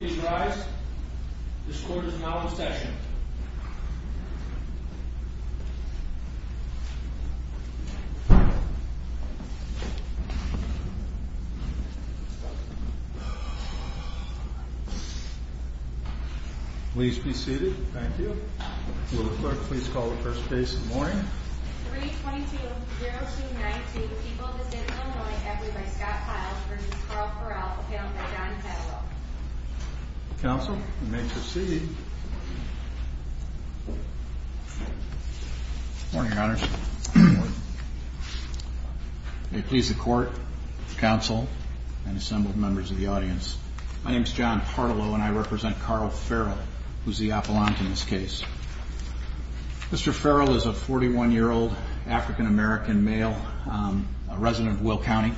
Please rise. This court is now in session. Please be seated. Thank you. Will the clerk please call the first base in the morning? 322-0292, the people of the state of Illinois, by Scott Pyle v. Carl Ferrell, accounted by John Pardolo. Counsel, you may proceed. Good morning, Your Honors. May it please the court, counsel, and assembled members of the audience. My name is John Pardolo, and I represent Carl Ferrell, who is the appellant in this case. Mr. Ferrell is a 41-year-old African-American male, a resident of Will County.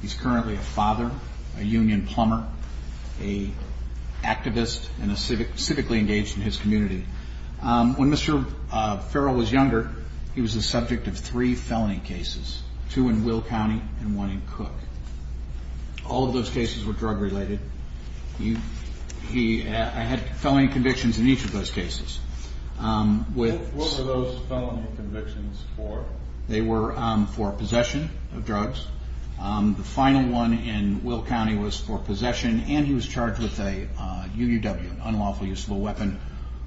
He's currently a father, a union plumber, an activist, and civically engaged in his community. When Mr. Ferrell was younger, he was the subject of three felony cases, two in Will County and one in Cook. All of those cases were drug-related. I had felony convictions in each of those cases. What were those felony convictions for? They were for possession of drugs. The final one in Will County was for possession, and he was charged with a UUW, an unlawful use of a weapon.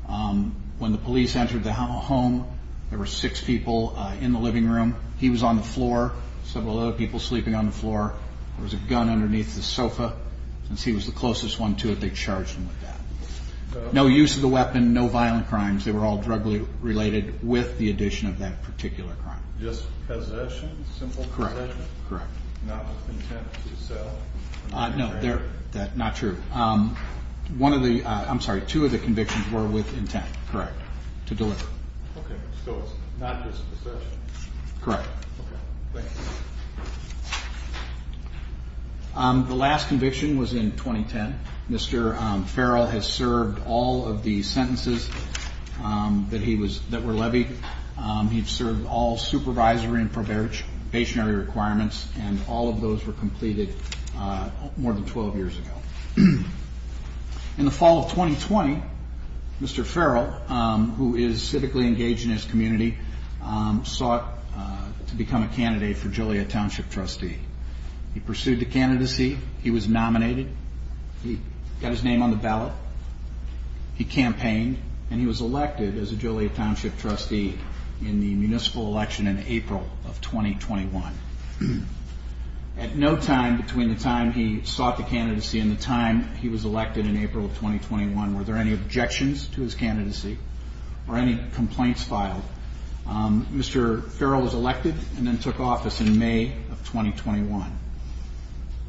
When the police entered the home, there were six people in the living room. He was on the floor, several other people sleeping on the floor. There was a gun underneath the sofa. Since he was the closest one to it, they charged him with that. No use of the weapon, no violent crimes. They were all drug-related with the addition of that particular crime. Just possession? Simple possession? Correct, correct. Not with intent to sell? No, not true. One of the, I'm sorry, two of the convictions were with intent, correct, to deliver. Okay, so it's not just possession. Correct. Okay, thank you. The last conviction was in 2010. Mr. Farrell has served all of the sentences that were levied. He's served all supervisory and probationary requirements, and all of those were completed more than 12 years ago. In the fall of 2020, Mr. Farrell, who is civically engaged in his community, sought to become a candidate for Joliet Township trustee. He pursued the candidacy, he was nominated, he got his name on the ballot, he campaigned, and he was elected as a Joliet Township trustee in the municipal election in April of 2021. At no time between the time he sought the candidacy and the time he was elected in April of 2021 were there any objections to his candidacy or any complaints filed. Mr. Farrell was elected and then took office in May of 2021.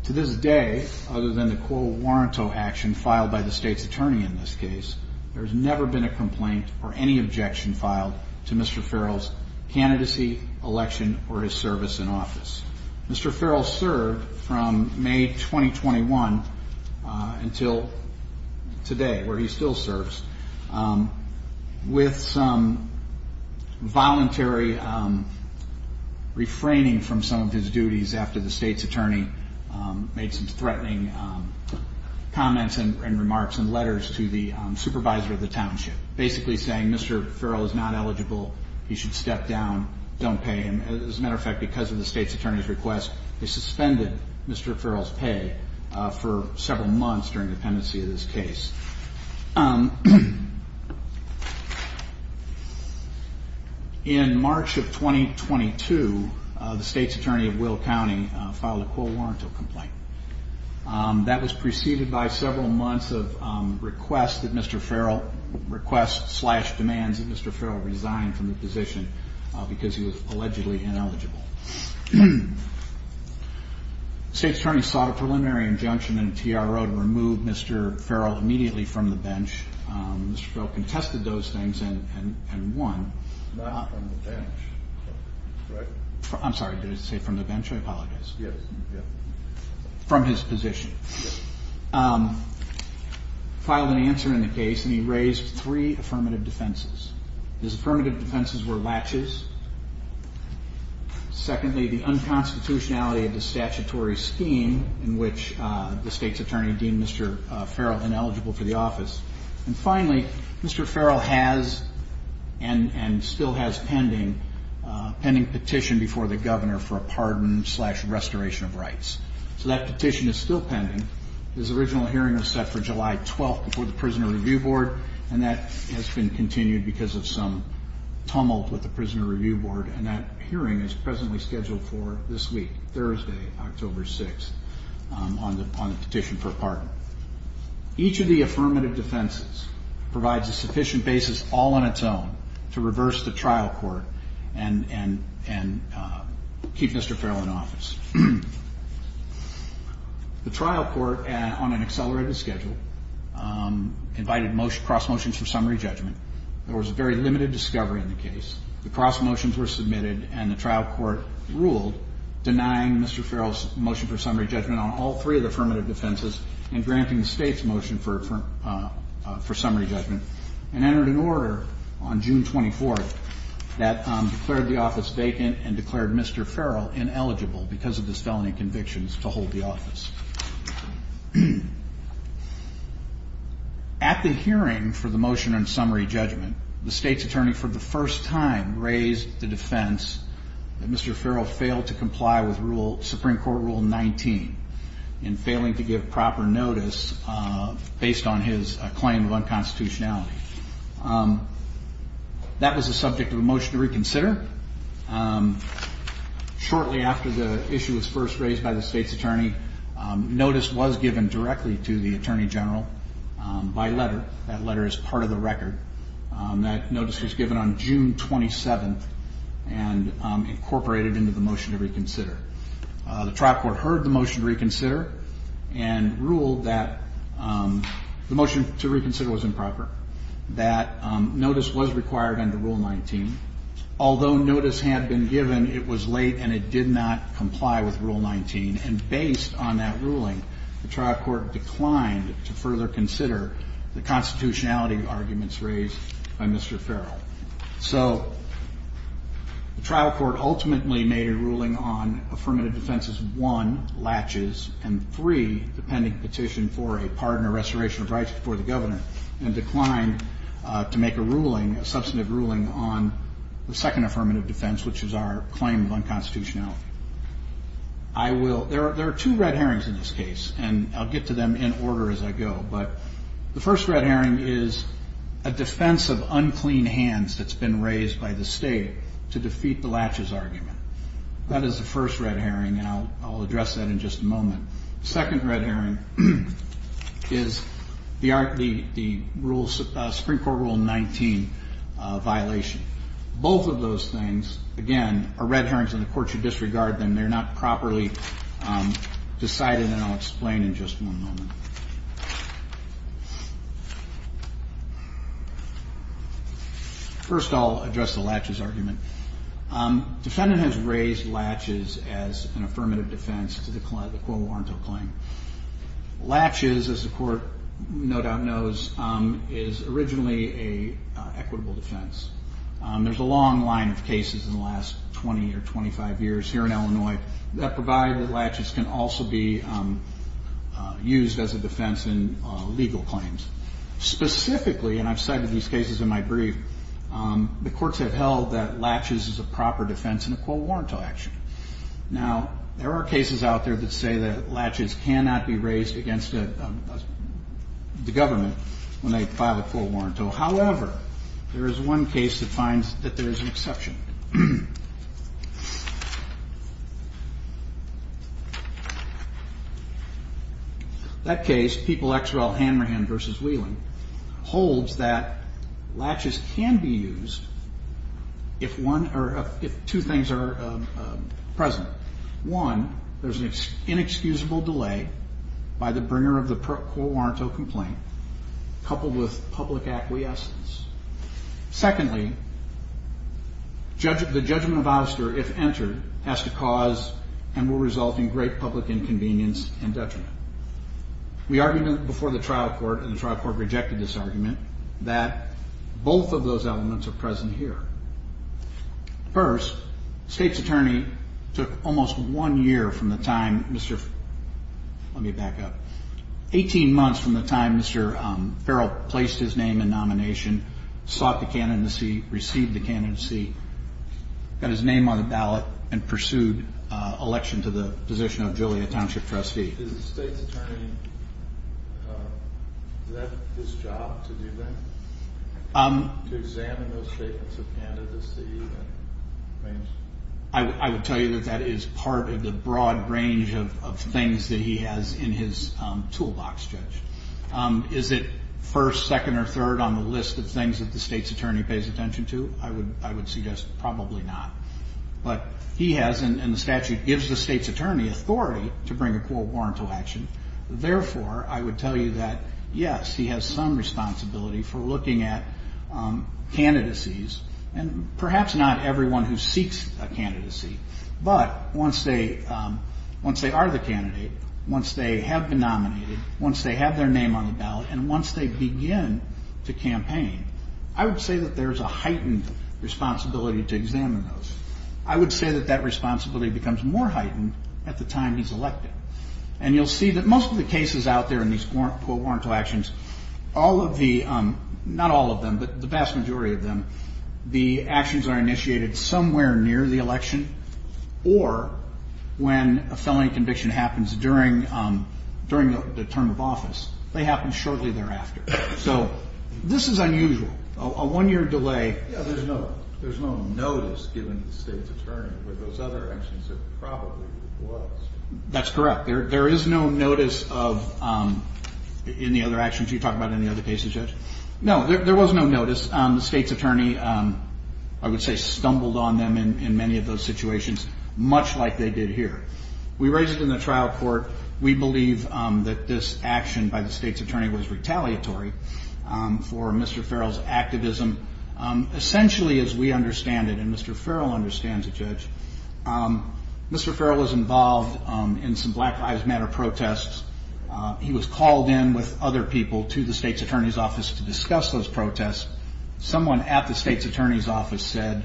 To this day, other than the quo warranto action filed by the state's attorney in this case, there has never been a complaint or any objection filed to Mr. Farrell's candidacy, election, or his service in office. Mr. Farrell served from May 2021 until today, where he still serves, with some voluntary refraining from some of his duties after the state's attorney made some threatening comments and remarks and letters to the supervisor of the township, basically saying Mr. Farrell is not eligible, he should step down, don't pay him. As a matter of fact, because of the state's attorney's request, they suspended Mr. Farrell's pay for several months during the pendency of this case. In March of 2022, the state's attorney of Will County filed a quo warranto complaint. That was preceded by several months of requests that Mr. Farrell, requests slash demands that Mr. Farrell resign from the position because he was allegedly ineligible. The state's attorney sought a preliminary injunction in the TRO to remove Mr. Farrell immediately from the bench. Mr. Farrell contested those things and won. I'm sorry, did I say from the bench? I apologize. From his position. He filed an answer in the case and he raised three affirmative defenses. His affirmative defenses were latches. Secondly, the unconstitutionality of the statutory scheme in which the state's attorney deemed Mr. Farrell ineligible for the office. And finally, Mr. Farrell has and still has pending, pending petition before the governor for a pardon slash restoration of rights. So that petition is still pending. His original hearing was set for July 12th before the Prisoner Review Board and that has been continued because of some tumult with the Prisoner Review Board and that hearing is presently scheduled for this week, Thursday, October 6th on the petition for a pardon. Each of the affirmative defenses provides a sufficient basis all on its own to reverse the trial court and keep Mr. Farrell in office. The trial court on an accelerated schedule invited cross motions for summary judgment. There was a very limited discovery in the case. The cross motions were submitted and the trial court ruled denying Mr. Farrell's motion for summary judgment on all three of the affirmative defenses and granting the state's motion for summary judgment and entered an order on June 24th that declared the office vacant and declared Mr. Farrell ineligible because of his felony convictions to hold the office. At the hearing for the motion on summary judgment, the state's attorney for the first time raised the defense that Mr. Farrell failed to comply with rule, Supreme Court Rule 19 in failing to give proper notice based on his claim of unconstitutionality. That was the subject of a motion to reconsider. Shortly after the issue was first raised by the state's attorney, notice was given directly to the attorney general by letter. That letter is part of the record. That notice was given on June 27th and incorporated into the motion to reconsider. The trial court heard the motion to reconsider and ruled that the motion to reconsider was improper, that notice was required under Rule 19, although notice had been given, it was late and it did not comply with Rule 19. And based on that ruling, the trial court declined to further consider the constitutionality arguments raised by Mr. Farrell. So the trial court ultimately made a ruling on affirmative defenses 1, latches, and 3, the pending petition for a pardon or restoration of rights before the governor, and declined to make a ruling, a substantive ruling on the second affirmative defense, which is our claim of unconstitutionality. There are two red herrings in this case, and I'll get to them in order as I go, but the first red herring is a defense of unclean hands that's been raised by the state to defeat the latches argument. That is the first red herring, and I'll address that in just a moment. The second red herring is the Supreme Court Rule 19, which is a violation. Both of those things, again, are red herrings and the court should disregard them. They're not properly decided, and I'll explain in just one moment. First, I'll address the latches argument. Defendant has raised latches as an affirmative defense to the Quo Varento claim. Latches, as the court no doubt knows, is originally an equitable defense. There's a long line of cases in the last 20 or 25 years here in Illinois that provide that latches can also be used as a defense in legal claims. Specifically, and I've cited these cases in my brief, the courts have held that latches is a proper defense in a Quo Varento action. Now, there are cases out there that say that latches cannot be raised against the government, when they file a Quo Varento. However, there is one case that finds that there is an exception. That case, People-Exwell-Hanrahan v. Whelan, holds that latches can be used if two things are present. One, there's an inexcusable delay by the bringer of the Quo Varento complaint coupled with public acquiescence. Secondly, the judgment of Oster, if entered, has to cause and will result in great public inconvenience and detriment. We argued before the trial court, and the trial court rejected this argument, that both of those elements are present here. First, the state's attorney took almost one year from the time Mr.... let me back up... 18 months from the time Mr. Farrell placed his name in nomination, sought the candidacy, received the candidacy, got his name on the ballot, and pursued election to the position of Joliet Township Trustee. I would tell you that that is part of the broad range of things that he has in his toolbox, Judge. Is it first, second, or third on the list of things that the state's attorney pays attention to? I would suggest probably not. But he has, in the statute, gives the state's attorney authority to bring a Quo Varento action. Therefore, I would tell you that, yes, he has some responsibility for looking at candidacies, and perhaps not everyone who seeks a candidacy, but once they are the candidate, once they have been nominated, once they have their name on the ballot, and once they begin to campaign, I would say that there is a heightened responsibility to examine those. I would say that that responsibility becomes more heightened at the time he's elected. And you'll see that most of the cases out there in these Quo Varento actions, all of the... not all of them, but the vast majority of them, the actions are initiated somewhere near the election, or when a felony conviction happens during the term of office. They happen shortly thereafter. So this is unusual. A one-year delay... Yeah, there's no notice given to the state's attorney with those other actions. It probably was. That's correct. There is no notice of any other actions. You talk about any other cases, Judge? No, there was no notice. The state's attorney, I would say, stumbled on them in many of those situations, much like they did here. We raised it in the trial court. We believe that this action by the state's attorney was retaliatory for Mr. Farrell's activism. Essentially, as we understand it, and Mr. Farrell understands it, Judge, Mr. Farrell was involved in some Black Lives Matter protests. He was called in with other people to the state's attorney's office to discuss those protests. Someone at the state's attorney's office said,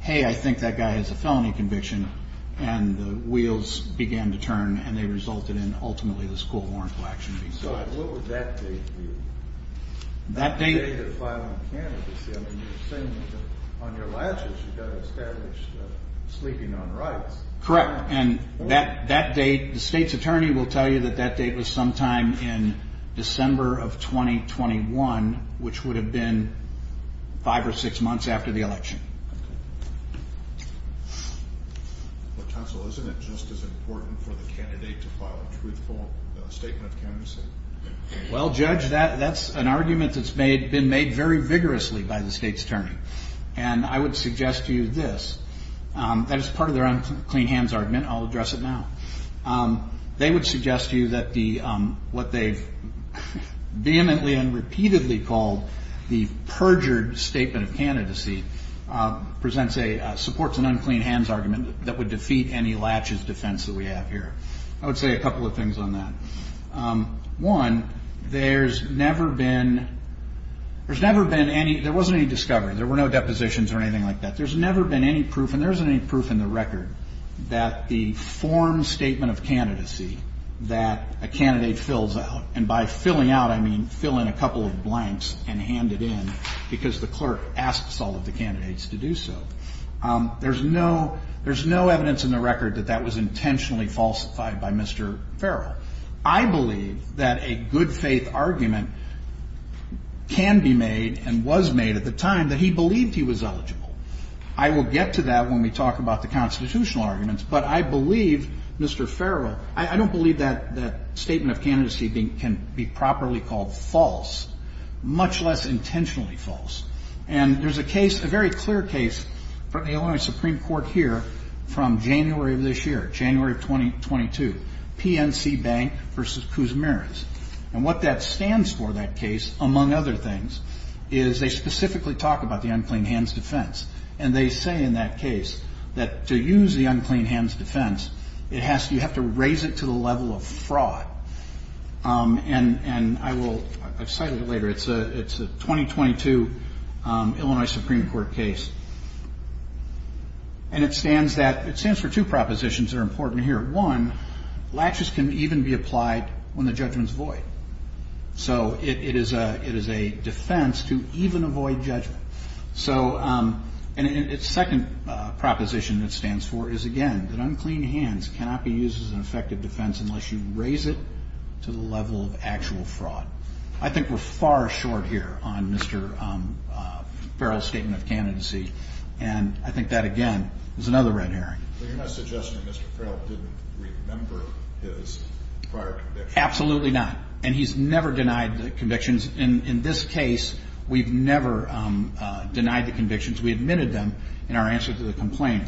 hey, I think that guy has a felony conviction, and the wheels began to turn, and they resulted in, ultimately, this cool warrant for action to be sought. So what would that date be? That date... That date of filing a candidacy. I mean, you're saying that on your latches you've got to establish sleeping on rights. Correct, and that date, the state's attorney will tell you that that date was sometime in December of 2021, which would have been five or six months after the election. Well, counsel, isn't it just as important for the candidate to file a truthful statement of candidacy? Well, Judge, that's an argument that's been made very vigorously by the state's attorney. And I would suggest to you this. That is part of their own clean hands argument. I'll address it now. They would suggest to you that the, what they vehemently and repeatedly called the perjured statement of candidacy presents a, supports an unclean hands argument that would defeat any latches defense that we have here. I would say a couple of things on that. One, there's never been, there's never been any, there wasn't any discovery. There were no depositions or anything like that. There's never been any proof, and there isn't any proof in the record, that the formed statement of candidacy that a candidate fills out, and by filling out I mean fill in a couple of blanks and hand it in because the clerk asks all of the candidates to do so. There's no, there's no evidence in the record that that was intentionally falsified by Mr. Farrell. I believe that a good faith argument can be made and was made at the time that he believed he was eligible. I will get to that when we talk about the constitutional arguments, but I believe Mr. Farrell, I don't believe that statement of candidacy can be properly called false, much less intentionally false. And there's a case, a very clear case from the Illinois Supreme Court here from January of this year, January of 2022, PNC Bank v. Kuzmiris. And what that stands for, that case, among other things, is they specifically talk about the unclean hands defense. And they say in that case that to use the unclean hands defense, you have to raise it to the level of fraud. And I will, I've cited it later, it's a 2022 Illinois Supreme Court case. And it stands that, it stands for two propositions that are important here. One, latches can even be applied when the judgment's void. So it is a defense to even avoid judgment. So, and its second proposition it stands for is again, that unclean hands cannot be used as an effective defense unless you raise it to the level of actual fraud. I think we're far short here on Mr. Farrell's statement of candidacy. And I think that again is another red herring. But you're not suggesting that Mr. Farrell didn't remember his prior convictions? Absolutely not. And he's never denied the convictions. In this case, we've never denied the convictions. We admitted them in our answer to the complaint.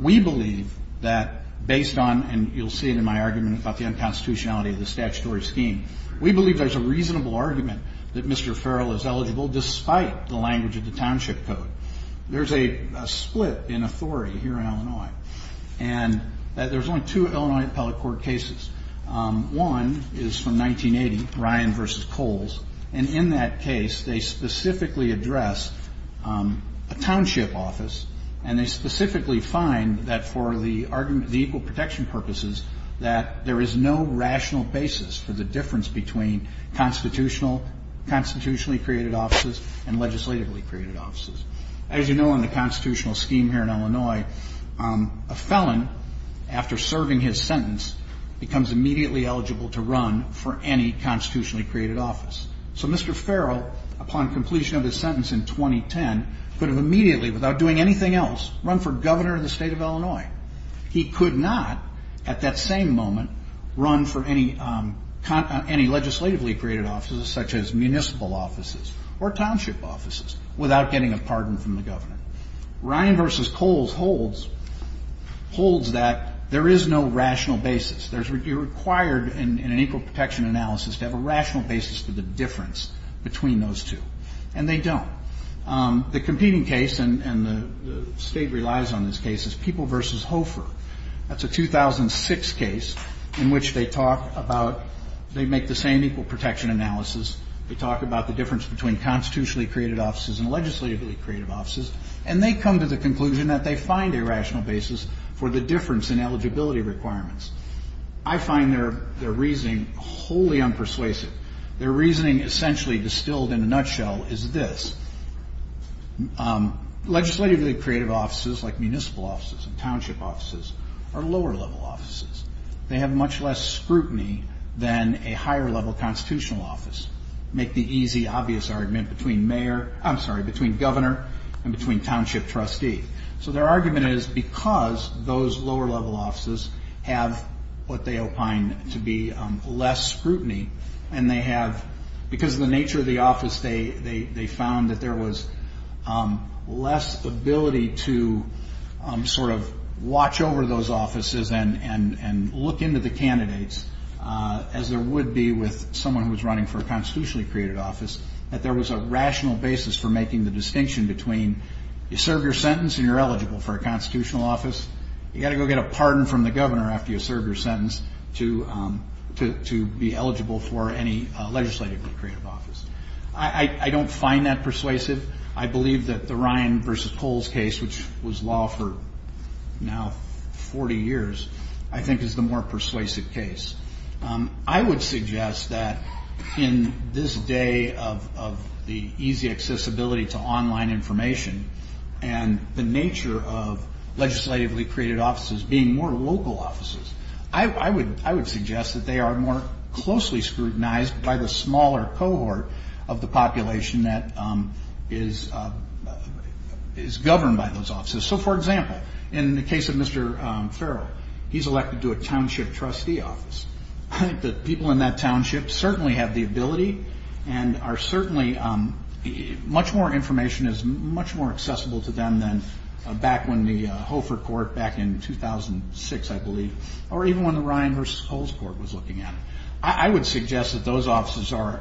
We believe that based on, and you'll see it in my argument about the unconstitutionality of the statutory scheme, we believe there's a reasonable argument that Mr. Farrell is eligible despite the language of the township code. There's a split in authority here in Illinois. And there's only two Illinois appellate court cases. One is from 1980, Ryan v. Coles. And in that case, they specifically address a township office and they specifically find that for the equal protection purposes that there is no rational basis for the difference between constitutionally created offices and legislatively created offices. As you know, in the constitutional scheme here in Illinois, a felon, after serving his sentence, becomes immediately eligible to run for any constitutionally created office. So Mr. Farrell, upon completion of his sentence in 2010, could have immediately, without doing anything else, run for governor of the state of Illinois. He could not, at that same moment, run for any legislatively created offices such as municipal offices or township offices without getting a pardon from the governor. Ryan v. Coles holds that there is no rational basis. You're required in an equal protection analysis to have a rational basis for the difference between those two. And they don't. The competing case, and the state relies on this case, is People v. Hofer. That's a 2006 case in which they talk about they make the same equal protection analysis. They talk about the difference between constitutionally created offices and legislatively created offices. And they come to the conclusion that they find a rational basis for the difference in eligibility requirements. I find their reasoning wholly unpersuasive. Their reasoning, essentially distilled in a nutshell, is this. Legislatively created offices like municipal offices and township offices are lower level offices. They have much less scrutiny than a higher level constitutional office. Make the easy, obvious argument between governor and between township trustee. So their argument is because those lower level offices have what they opine to be less scrutiny, and because of the nature of the office, they found that there was less ability to sort of watch over those offices and look into the candidates as there would be with someone who was running for a constitutionally created office, that there was a rational basis for making the distinction between you serve your sentence and you're eligible for a constitutional office. You've got to go get a pardon from the governor after you've served your sentence to be eligible for any legislatively created office. I don't find that persuasive. I believe that the Ryan versus Coles case, which was law for now 40 years, I think is the more persuasive case. I would suggest that in this day of the easy accessibility to online information and the nature of legislatively created offices being more local offices, I would suggest that they are more closely scrutinized by the smaller cohort of the population that is governed by those offices. So, for example, in the case of Mr. Farrell, he's elected to a township trustee office. I think that people in that township certainly have the ability and are certainly much more information is much more accessible to them than back when the Hofer court back in 2006, I believe, or even when the Ryan versus Coles court was looking at it. I would suggest that those offices are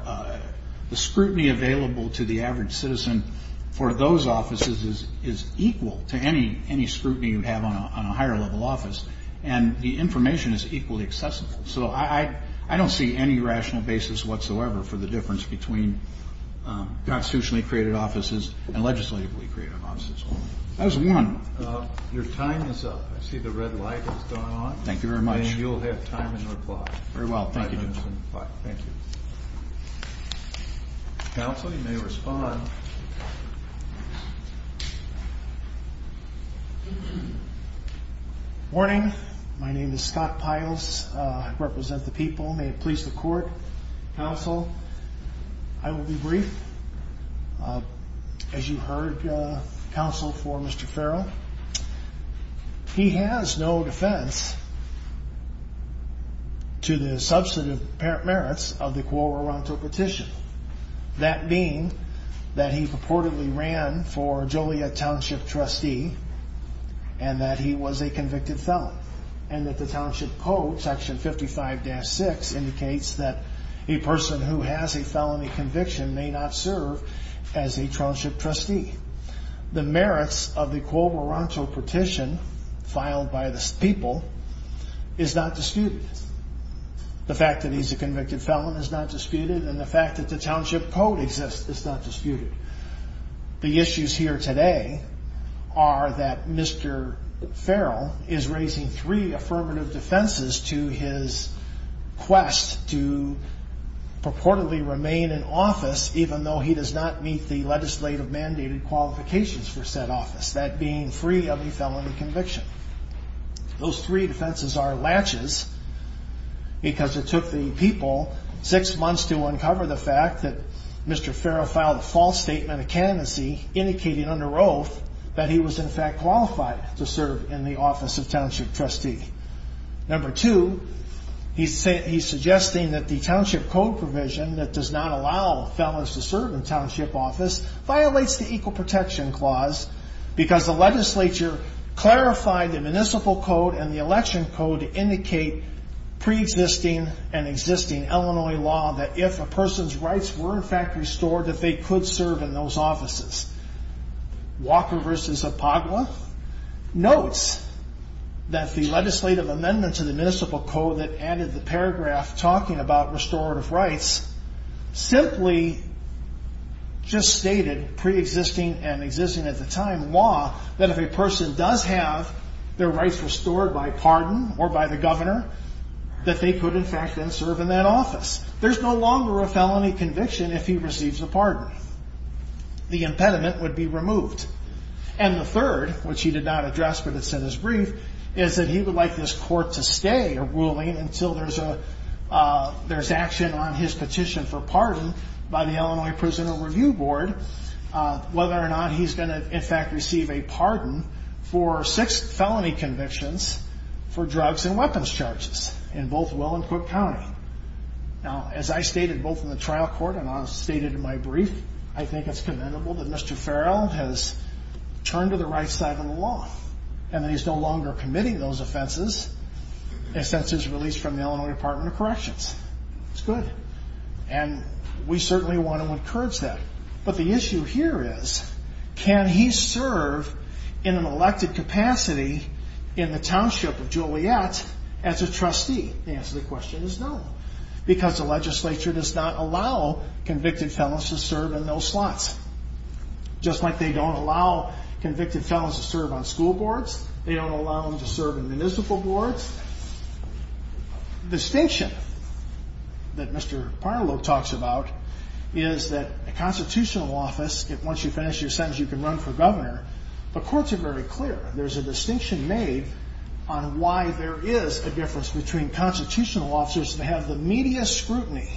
the scrutiny available to the average citizen for those offices is equal to any scrutiny you have on a higher level office and the information is equally accessible. So I don't see any rational basis whatsoever for the difference between constitutionally created offices and legislatively created offices. That was one. Your time is up. I see the red light is going on. Thank you very much. And you'll have time in reply. Very well. Thank you. Thank you. Counsel, you may respond. Morning. My name is Scott Piles. I represent the people. May it please the court. Counsel, I will be brief. As you heard, counsel, for Mr. Farrell, he has no defense to the substantive merits of the Quo Veronto petition. That being that he purportedly ran for Joliet township trustee and that he was a convicted felon and that the township code, section 55-6, indicates that a person who has a felony conviction may not serve as a township trustee. The merits of the Quo Veronto petition filed by the people is not disputed. The fact that he's a convicted felon is not disputed and the fact that the township code exists is not disputed. The issues here today are that Mr. Farrell is raising three affirmative defenses to his quest to purportedly remain in office even though he does not meet the legislative mandated qualifications for said office, that being free of a felony conviction. Those three defenses are latches because it took the people six months to uncover the fact that Mr. Farrell filed a false statement of candidacy indicating under oath that he was in fact qualified to serve in the office of township trustee. Number two, he's suggesting that the township code provision that does not allow felons to serve in township office violates the Equal Protection Clause because the legislature clarified the municipal code and the election code to indicate pre-existing and existing Illinois law that if a person's rights were in fact restored that they could serve in those offices. Walker v. Epagua notes that the legislative amendment to the municipal code that added the paragraph talking about restorative rights simply just stated pre-existing and existing at the time that if a person does have their rights restored by pardon or by the governor that they could in fact then serve in that office. There's no longer a felony conviction if he receives a pardon. The impediment would be removed. And the third, which he did not address but it's in his brief, is that he would like this court to stay a ruling until there's action on his petition for pardon by the Illinois Prisoner Review Board whether or not he's going to in fact receive a pardon for six felony convictions for drugs and weapons charges in both Will and Cook County. Now, as I stated both in the trial court and I stated in my brief, I think it's commendable that Mr. Farrell has turned to the right side of the law and that he's no longer committing those offenses since his release from the Illinois Department of Corrections. It's good. And we certainly want to encourage that. But the issue here is can he serve in an elected capacity in the township of Joliet as a trustee? The answer to the question is no because the legislature does not allow convicted felons to serve in those slots. Just like they don't allow convicted felons to serve on school boards, they don't allow them to serve in municipal boards. The distinction that Mr. Farrell talks about is that a constitutional office, once you finish your sentence you can run for governor, the courts are very clear. There's a distinction made on why there is a difference between constitutional officers that have the media scrutiny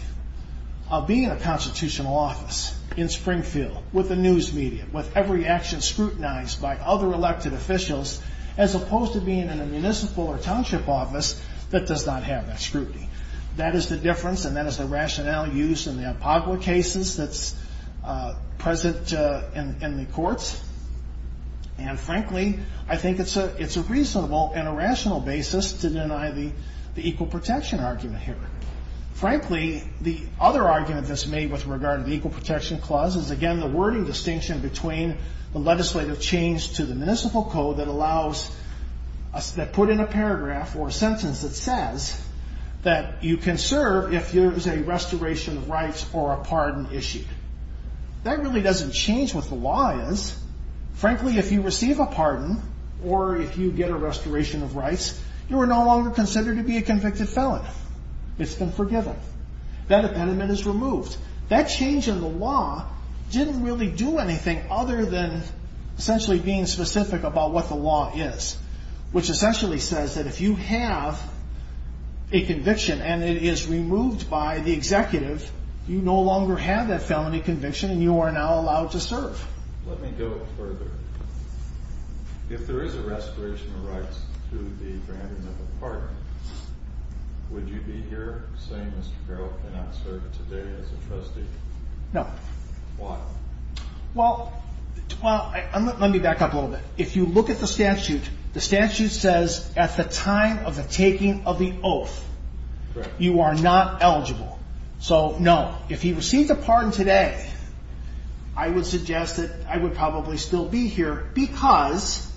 of being in a constitutional office in Springfield with the news media, with every action scrutinized by other elected officials as opposed to being in a municipal or township office that does not have that scrutiny. That is the difference and that is the rationale used in the courts and frankly I think it's a reasonable and a rational basis to deny the equal protection argument here. Frankly, the other argument that's made with regard to the equal protection clause is again the wording distinction between the legislative change to the municipal code that put in a paragraph or sentence that says that you can serve if there is a restoration of rights or a pardon issued. The change with the law is frankly if you receive a pardon or if you get a restoration of rights, you are no longer considered to be a convicted felon. It's been forgiven. That impediment is removed. That change in the law didn't really do anything other than essentially being specific about what the law is, which essentially says that if you have a conviction and it is removed by the executive, you no longer have that felony conviction to serve. Let me go further. If there is a restoration of rights to the granting of a pardon, would you be here saying Mr. Carroll cannot serve today as a trustee? No. Why? Well, let me back up a little bit. If you look at the statute, the statute says at the time of the taking of the oath you are not eligible. So, no. If he receives a pardon today, I would suggest that I would probably still be here because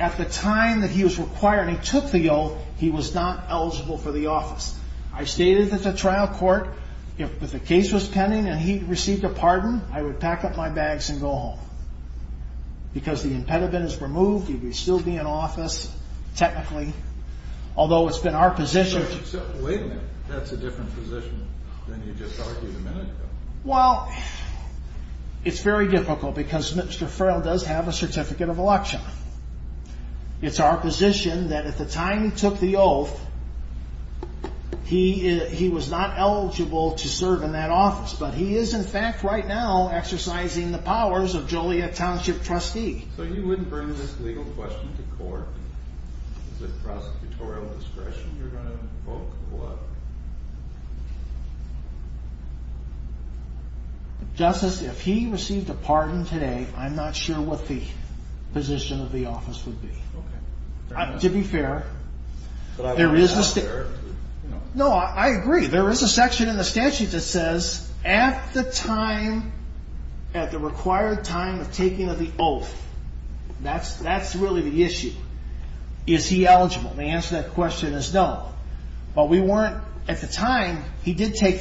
at the time that he was required and he took the oath, he was not eligible for the office. I stated at the trial court if the case was pending and he received a pardon, I would pack up my bags and go home because the impediment is removed. He would still be in office, then you just argued a minute ago. Well, it's very difficult because Mr. Farrell does have a certificate of election. It's our position that at the time he took the oath, he was not eligible to serve in that office, but he is in fact right now exercising the powers of Joliet Township trustee. So you wouldn't bring this legal question to court? Is it prosecutorial discretion to court? Justice, if he received a pardon today, I'm not sure what the position of the office would be. To be fair, there is a section in the statute that says at the required time of taking of the oath, that's really the issue. Is he eligible? When he took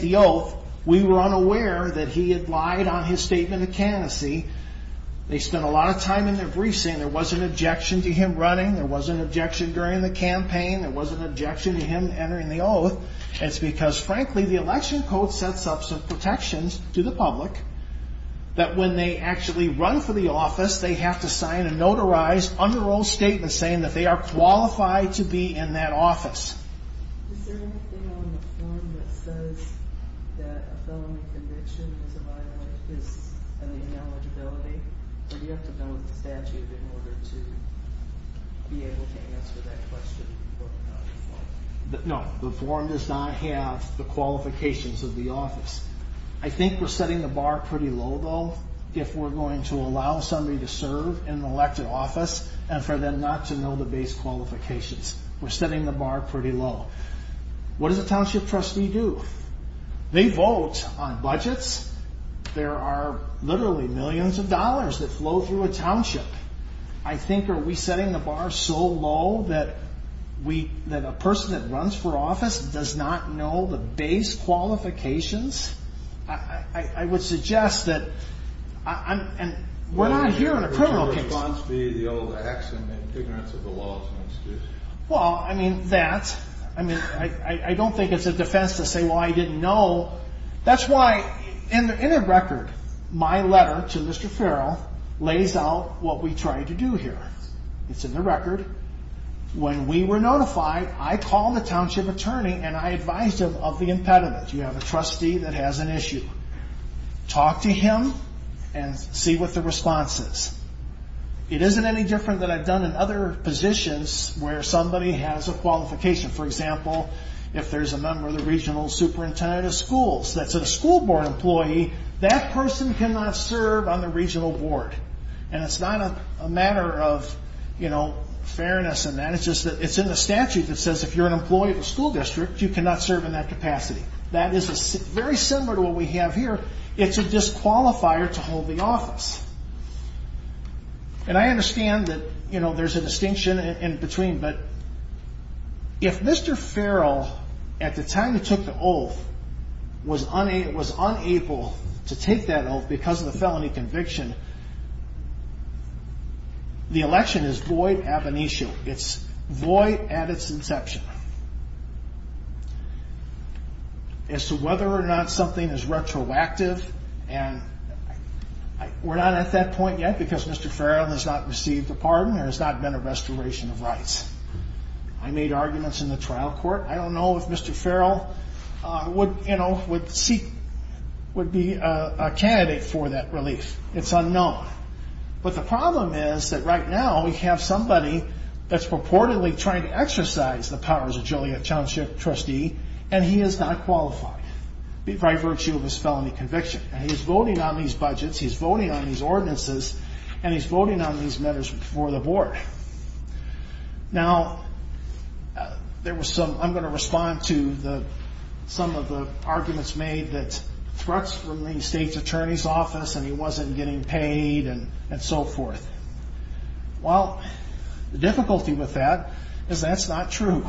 the oath, we were unaware that he had lied on his statement of candidacy. They spent a lot of time in their briefs saying there was an objection to him running, there was an objection during the campaign, there was an objection to him entering the oath. It's because frankly the election code sets up some protections that a felony conviction is an ineligibility, but you have to know the statute in order to be able to answer that question. No, the form does not have the qualifications of the office. I think we're setting the bar pretty low though if we're going to allow somebody to serve in an elected office and for them not to know they vote on budgets, there are literally millions of dollars that flow through a township. I think are we setting the bar so low that a person that runs for office does not know the base qualifications? I would suggest that we're not here in a criminal case. Well, I mean that, I don't think it's a criminal case. So that's why in the record my letter to Mr. Farrell lays out what we try to do here. It's in the record. When we were notified I called the township attorney and I advised him of the impediment. You have a trustee that has an issue. Talk to him and see what the issue is. If you're a school board employee, that person cannot serve on the regional board. It's not a matter of fairness. It's in the statute that says if you're an employee of a school district you cannot serve in that capacity. It's a disqualifier to hold the office. It was unable to take that oath because of the felony conviction. The election is void ab initio. It's void at its inception. As to whether or not something is retroactive and we're not at that point yet because Mr. Farrell has not received a pardon or has not been a restoration of rights. He would be a candidate for that relief. It's unknown. But the problem is that right now we have somebody that's purportedly trying to exercise the powers of Joliet Township trustee and he is not qualified by virtue of his felony conviction. He's voting on these budgets, he's voting on these ordinances, amendments that were made that threats from the state's attorney's office and he wasn't getting paid and so forth. Well, the difficulty with that is that's not true.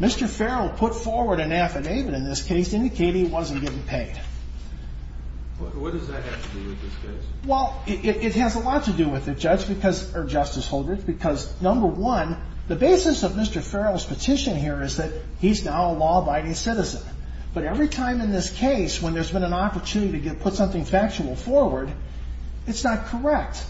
Mr. Farrell put forward an affidavit in this case indicating he wasn't getting paid. What does that have to do with this case? When there's been an opportunity to put something factual forward, it's not correct.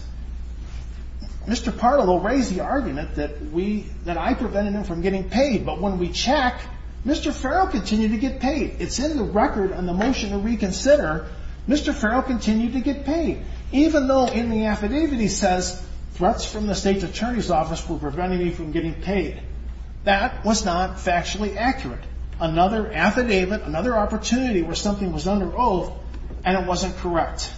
Mr. Pardo will raise the argument that I prevented him from getting paid, but when we check, Mr. Farrell continued to get paid. It's in the record on the motion to reconsider, Mr. Farrell continued to get paid, even though in the affidavit he said that something was under oath and it wasn't correct.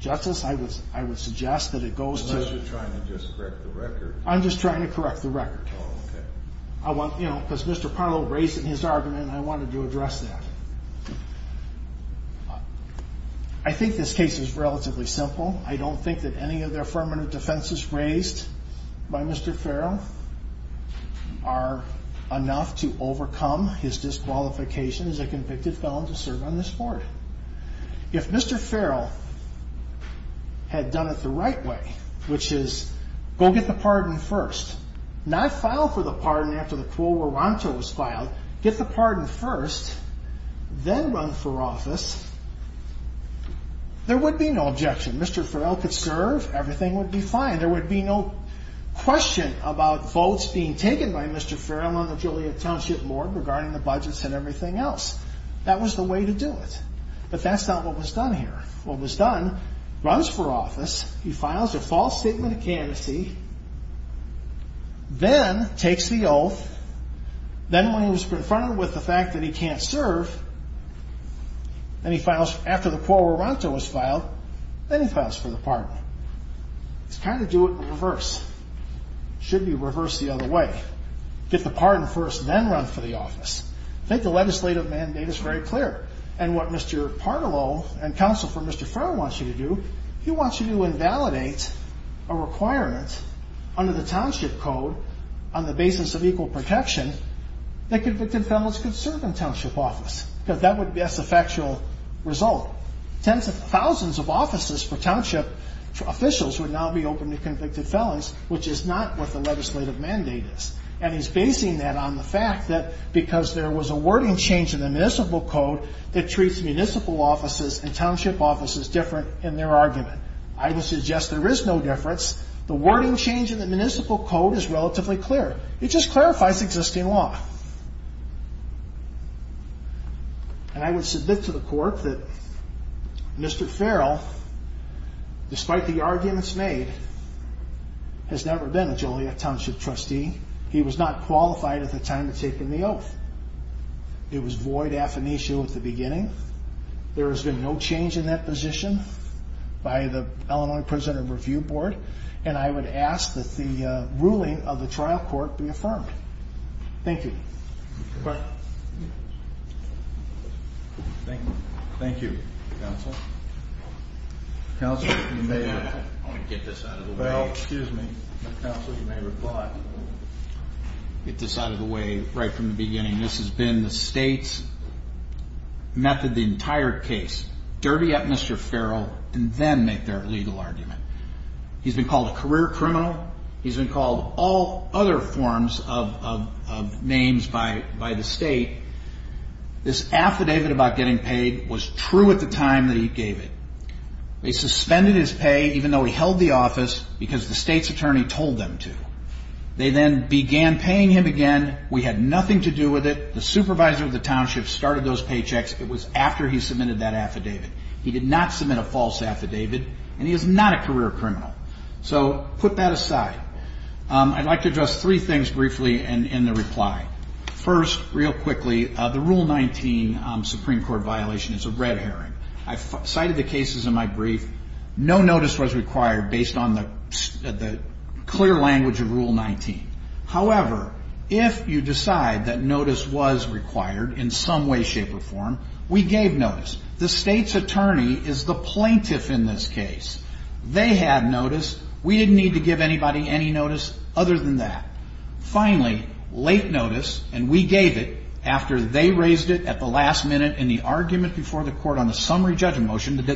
Justice, I would suggest that it goes to... I'm just trying to correct the record. Because Mr. Pardo raised in his argument I wanted to address that. I think this case is relatively simple. I don't think that any of the affirmative defenses will overcome his disqualification as a convicted felon to serve on this board. If Mr. Farrell had done it the right way, which is go get the pardon first, not file for the pardon after the quorum was filed. Get the pardon first, then run for office, there would be no objection. Mr. Farrell filed a false statement of candidacy, then he took the oath, then when he was confronted with the fact that he can't serve, then he files for the pardon. It's kind of do it the reverse. It doesn't work. I think the legislative mandate is very clear. And what Mr. Pardo and counsel for Mr. Farrell wants you to do, he wants you to invalidate a requirement under the township code on the basis of equal protection that convicted felons can serve in township because there was a wording change in the municipal code that treats municipal offices and township offices different in their argument. I would suggest there is no difference. The wording change in the municipal code is relatively clear. It just clarifies existing law. And I would submit to the court that it was void affinitio at the beginning. There has been no change in that position by the Illinois prisoner review board. And I would ask that the ruling of the trial court be affirmed. Thank you. Thank you, counsel. I want to get this out of the way. This has been the state's method the entire case. Derby up Mr. Farrell and then make their legal argument. He's been called a career criminal. He's been called all other forms of names by the state. This affidavit about getting paid was true at the time that he gave it. They suspended his pay check. The supervisor of the township started those pay checks. It was after he submitted that affidavit. He did not submit a false affidavit and he is not a career criminal. So put that aside. I'd like to address three things briefly in the reply. First, real quickly, the rule 19 Supreme Court violation is a red herring. I don't know if you know this, but the state's attorney is the plaintiff in this case. They had notice. We didn't need to give anybody any notice other than that. Finally, late notice and we gave it after they raised it at the last minute in the argument before the court on the summary of the Supreme Court case. It's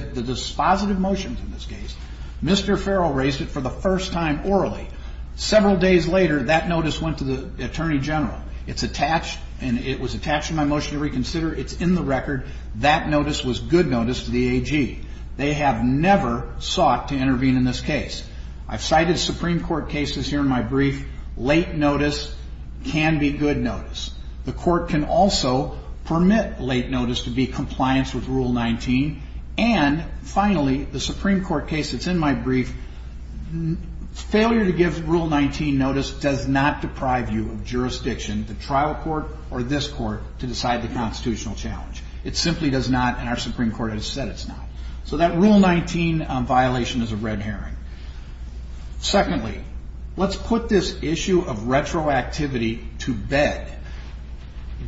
in the record. That notice was good notice to the AG. They have never sought to intervene in this case. I've cited Supreme Court cases here in my brief. Late notice can be good notice. The court can also permit late notice to be compliance with rule 19. And the Supreme Court has said it's not. So that rule 19 violation is a red herring. Secondly, let's put this issue of retroactivity to bed.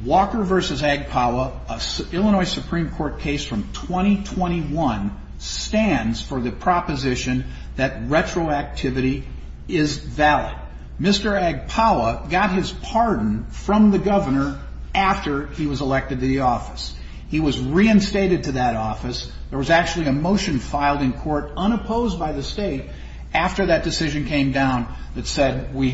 Walker v. Agpawa, an Illinois Supreme Court case from 2021, stands for the proposition that retroactivity is valid. Mr. Agpawa was elected to the office. He was reinstated to that office. There was a motion filed in court unopposed by the state after that decision came down that said we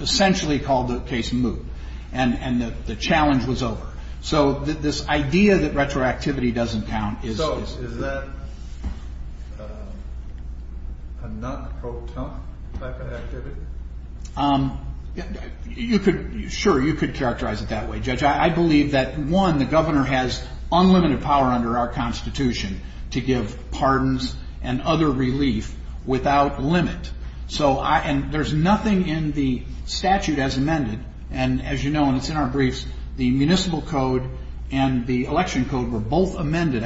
essentially called the case and moved. And the challenge was over. So this idea that retroactivity is valid, I believe that, one, the governor has unlimited power under our Constitution to give pardons and other relief without limit. And there's nothing in the statute as amended. And as you know, and it's in our briefs, the municipal code and the election code were both amended.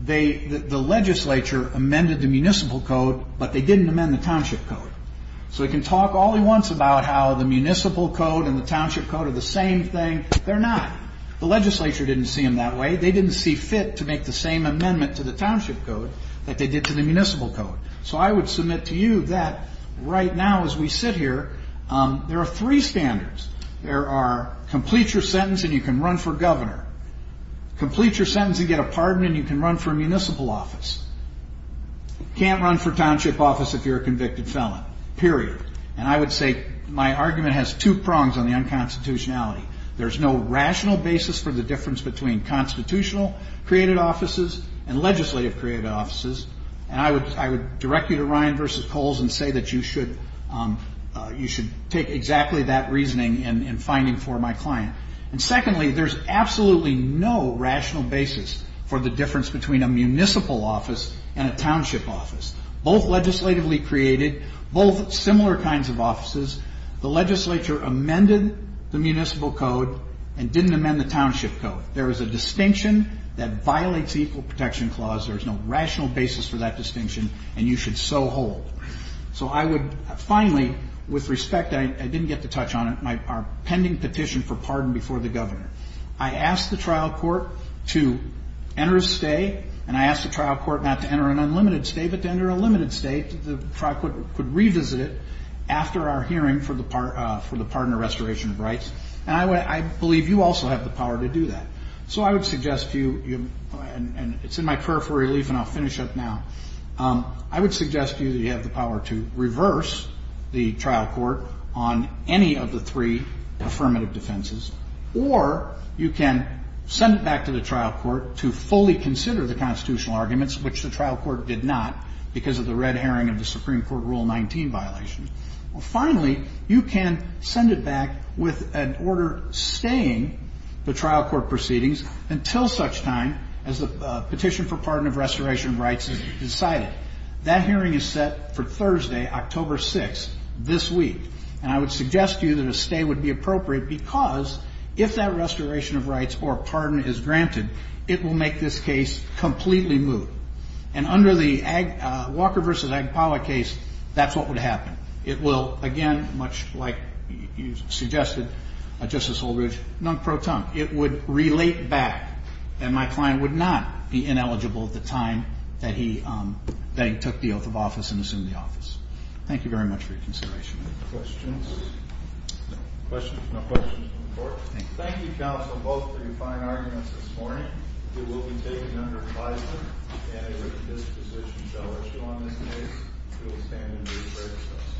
The legislature amended the municipal code, but they didn't amend the township code. So we can talk all at once about how the municipal code and the township code are the same thing. They're not. The legislature didn't see them that way. They didn't see fit to make the same amendment to the constitution. So you can't run for municipal office. You can't run for township office if you're a convicted felon, period. And I would say my argument has two prongs on the unconstitutionality. There's no rational basis for the difference between constitutional created offices and legislative created offices. There is a distinction between a municipal office and a township office. Both legislatively created, both similar kinds of offices. The legislature amended the municipal code and didn't amend the township code. There is a distinction that violates equal protection clause. There's no rational basis for the difference between offices and legislative created offices. There is a distinction that violates equal protection clause. There is a distinction that violates legislative created offices and legislative offices. Finally, you can send it back with an order staying the trial court proceedings until such time as the petition for pardon of restoration of rights is decided. That hearing is set for Thursday, October 6th. Thank you. »» Thank you.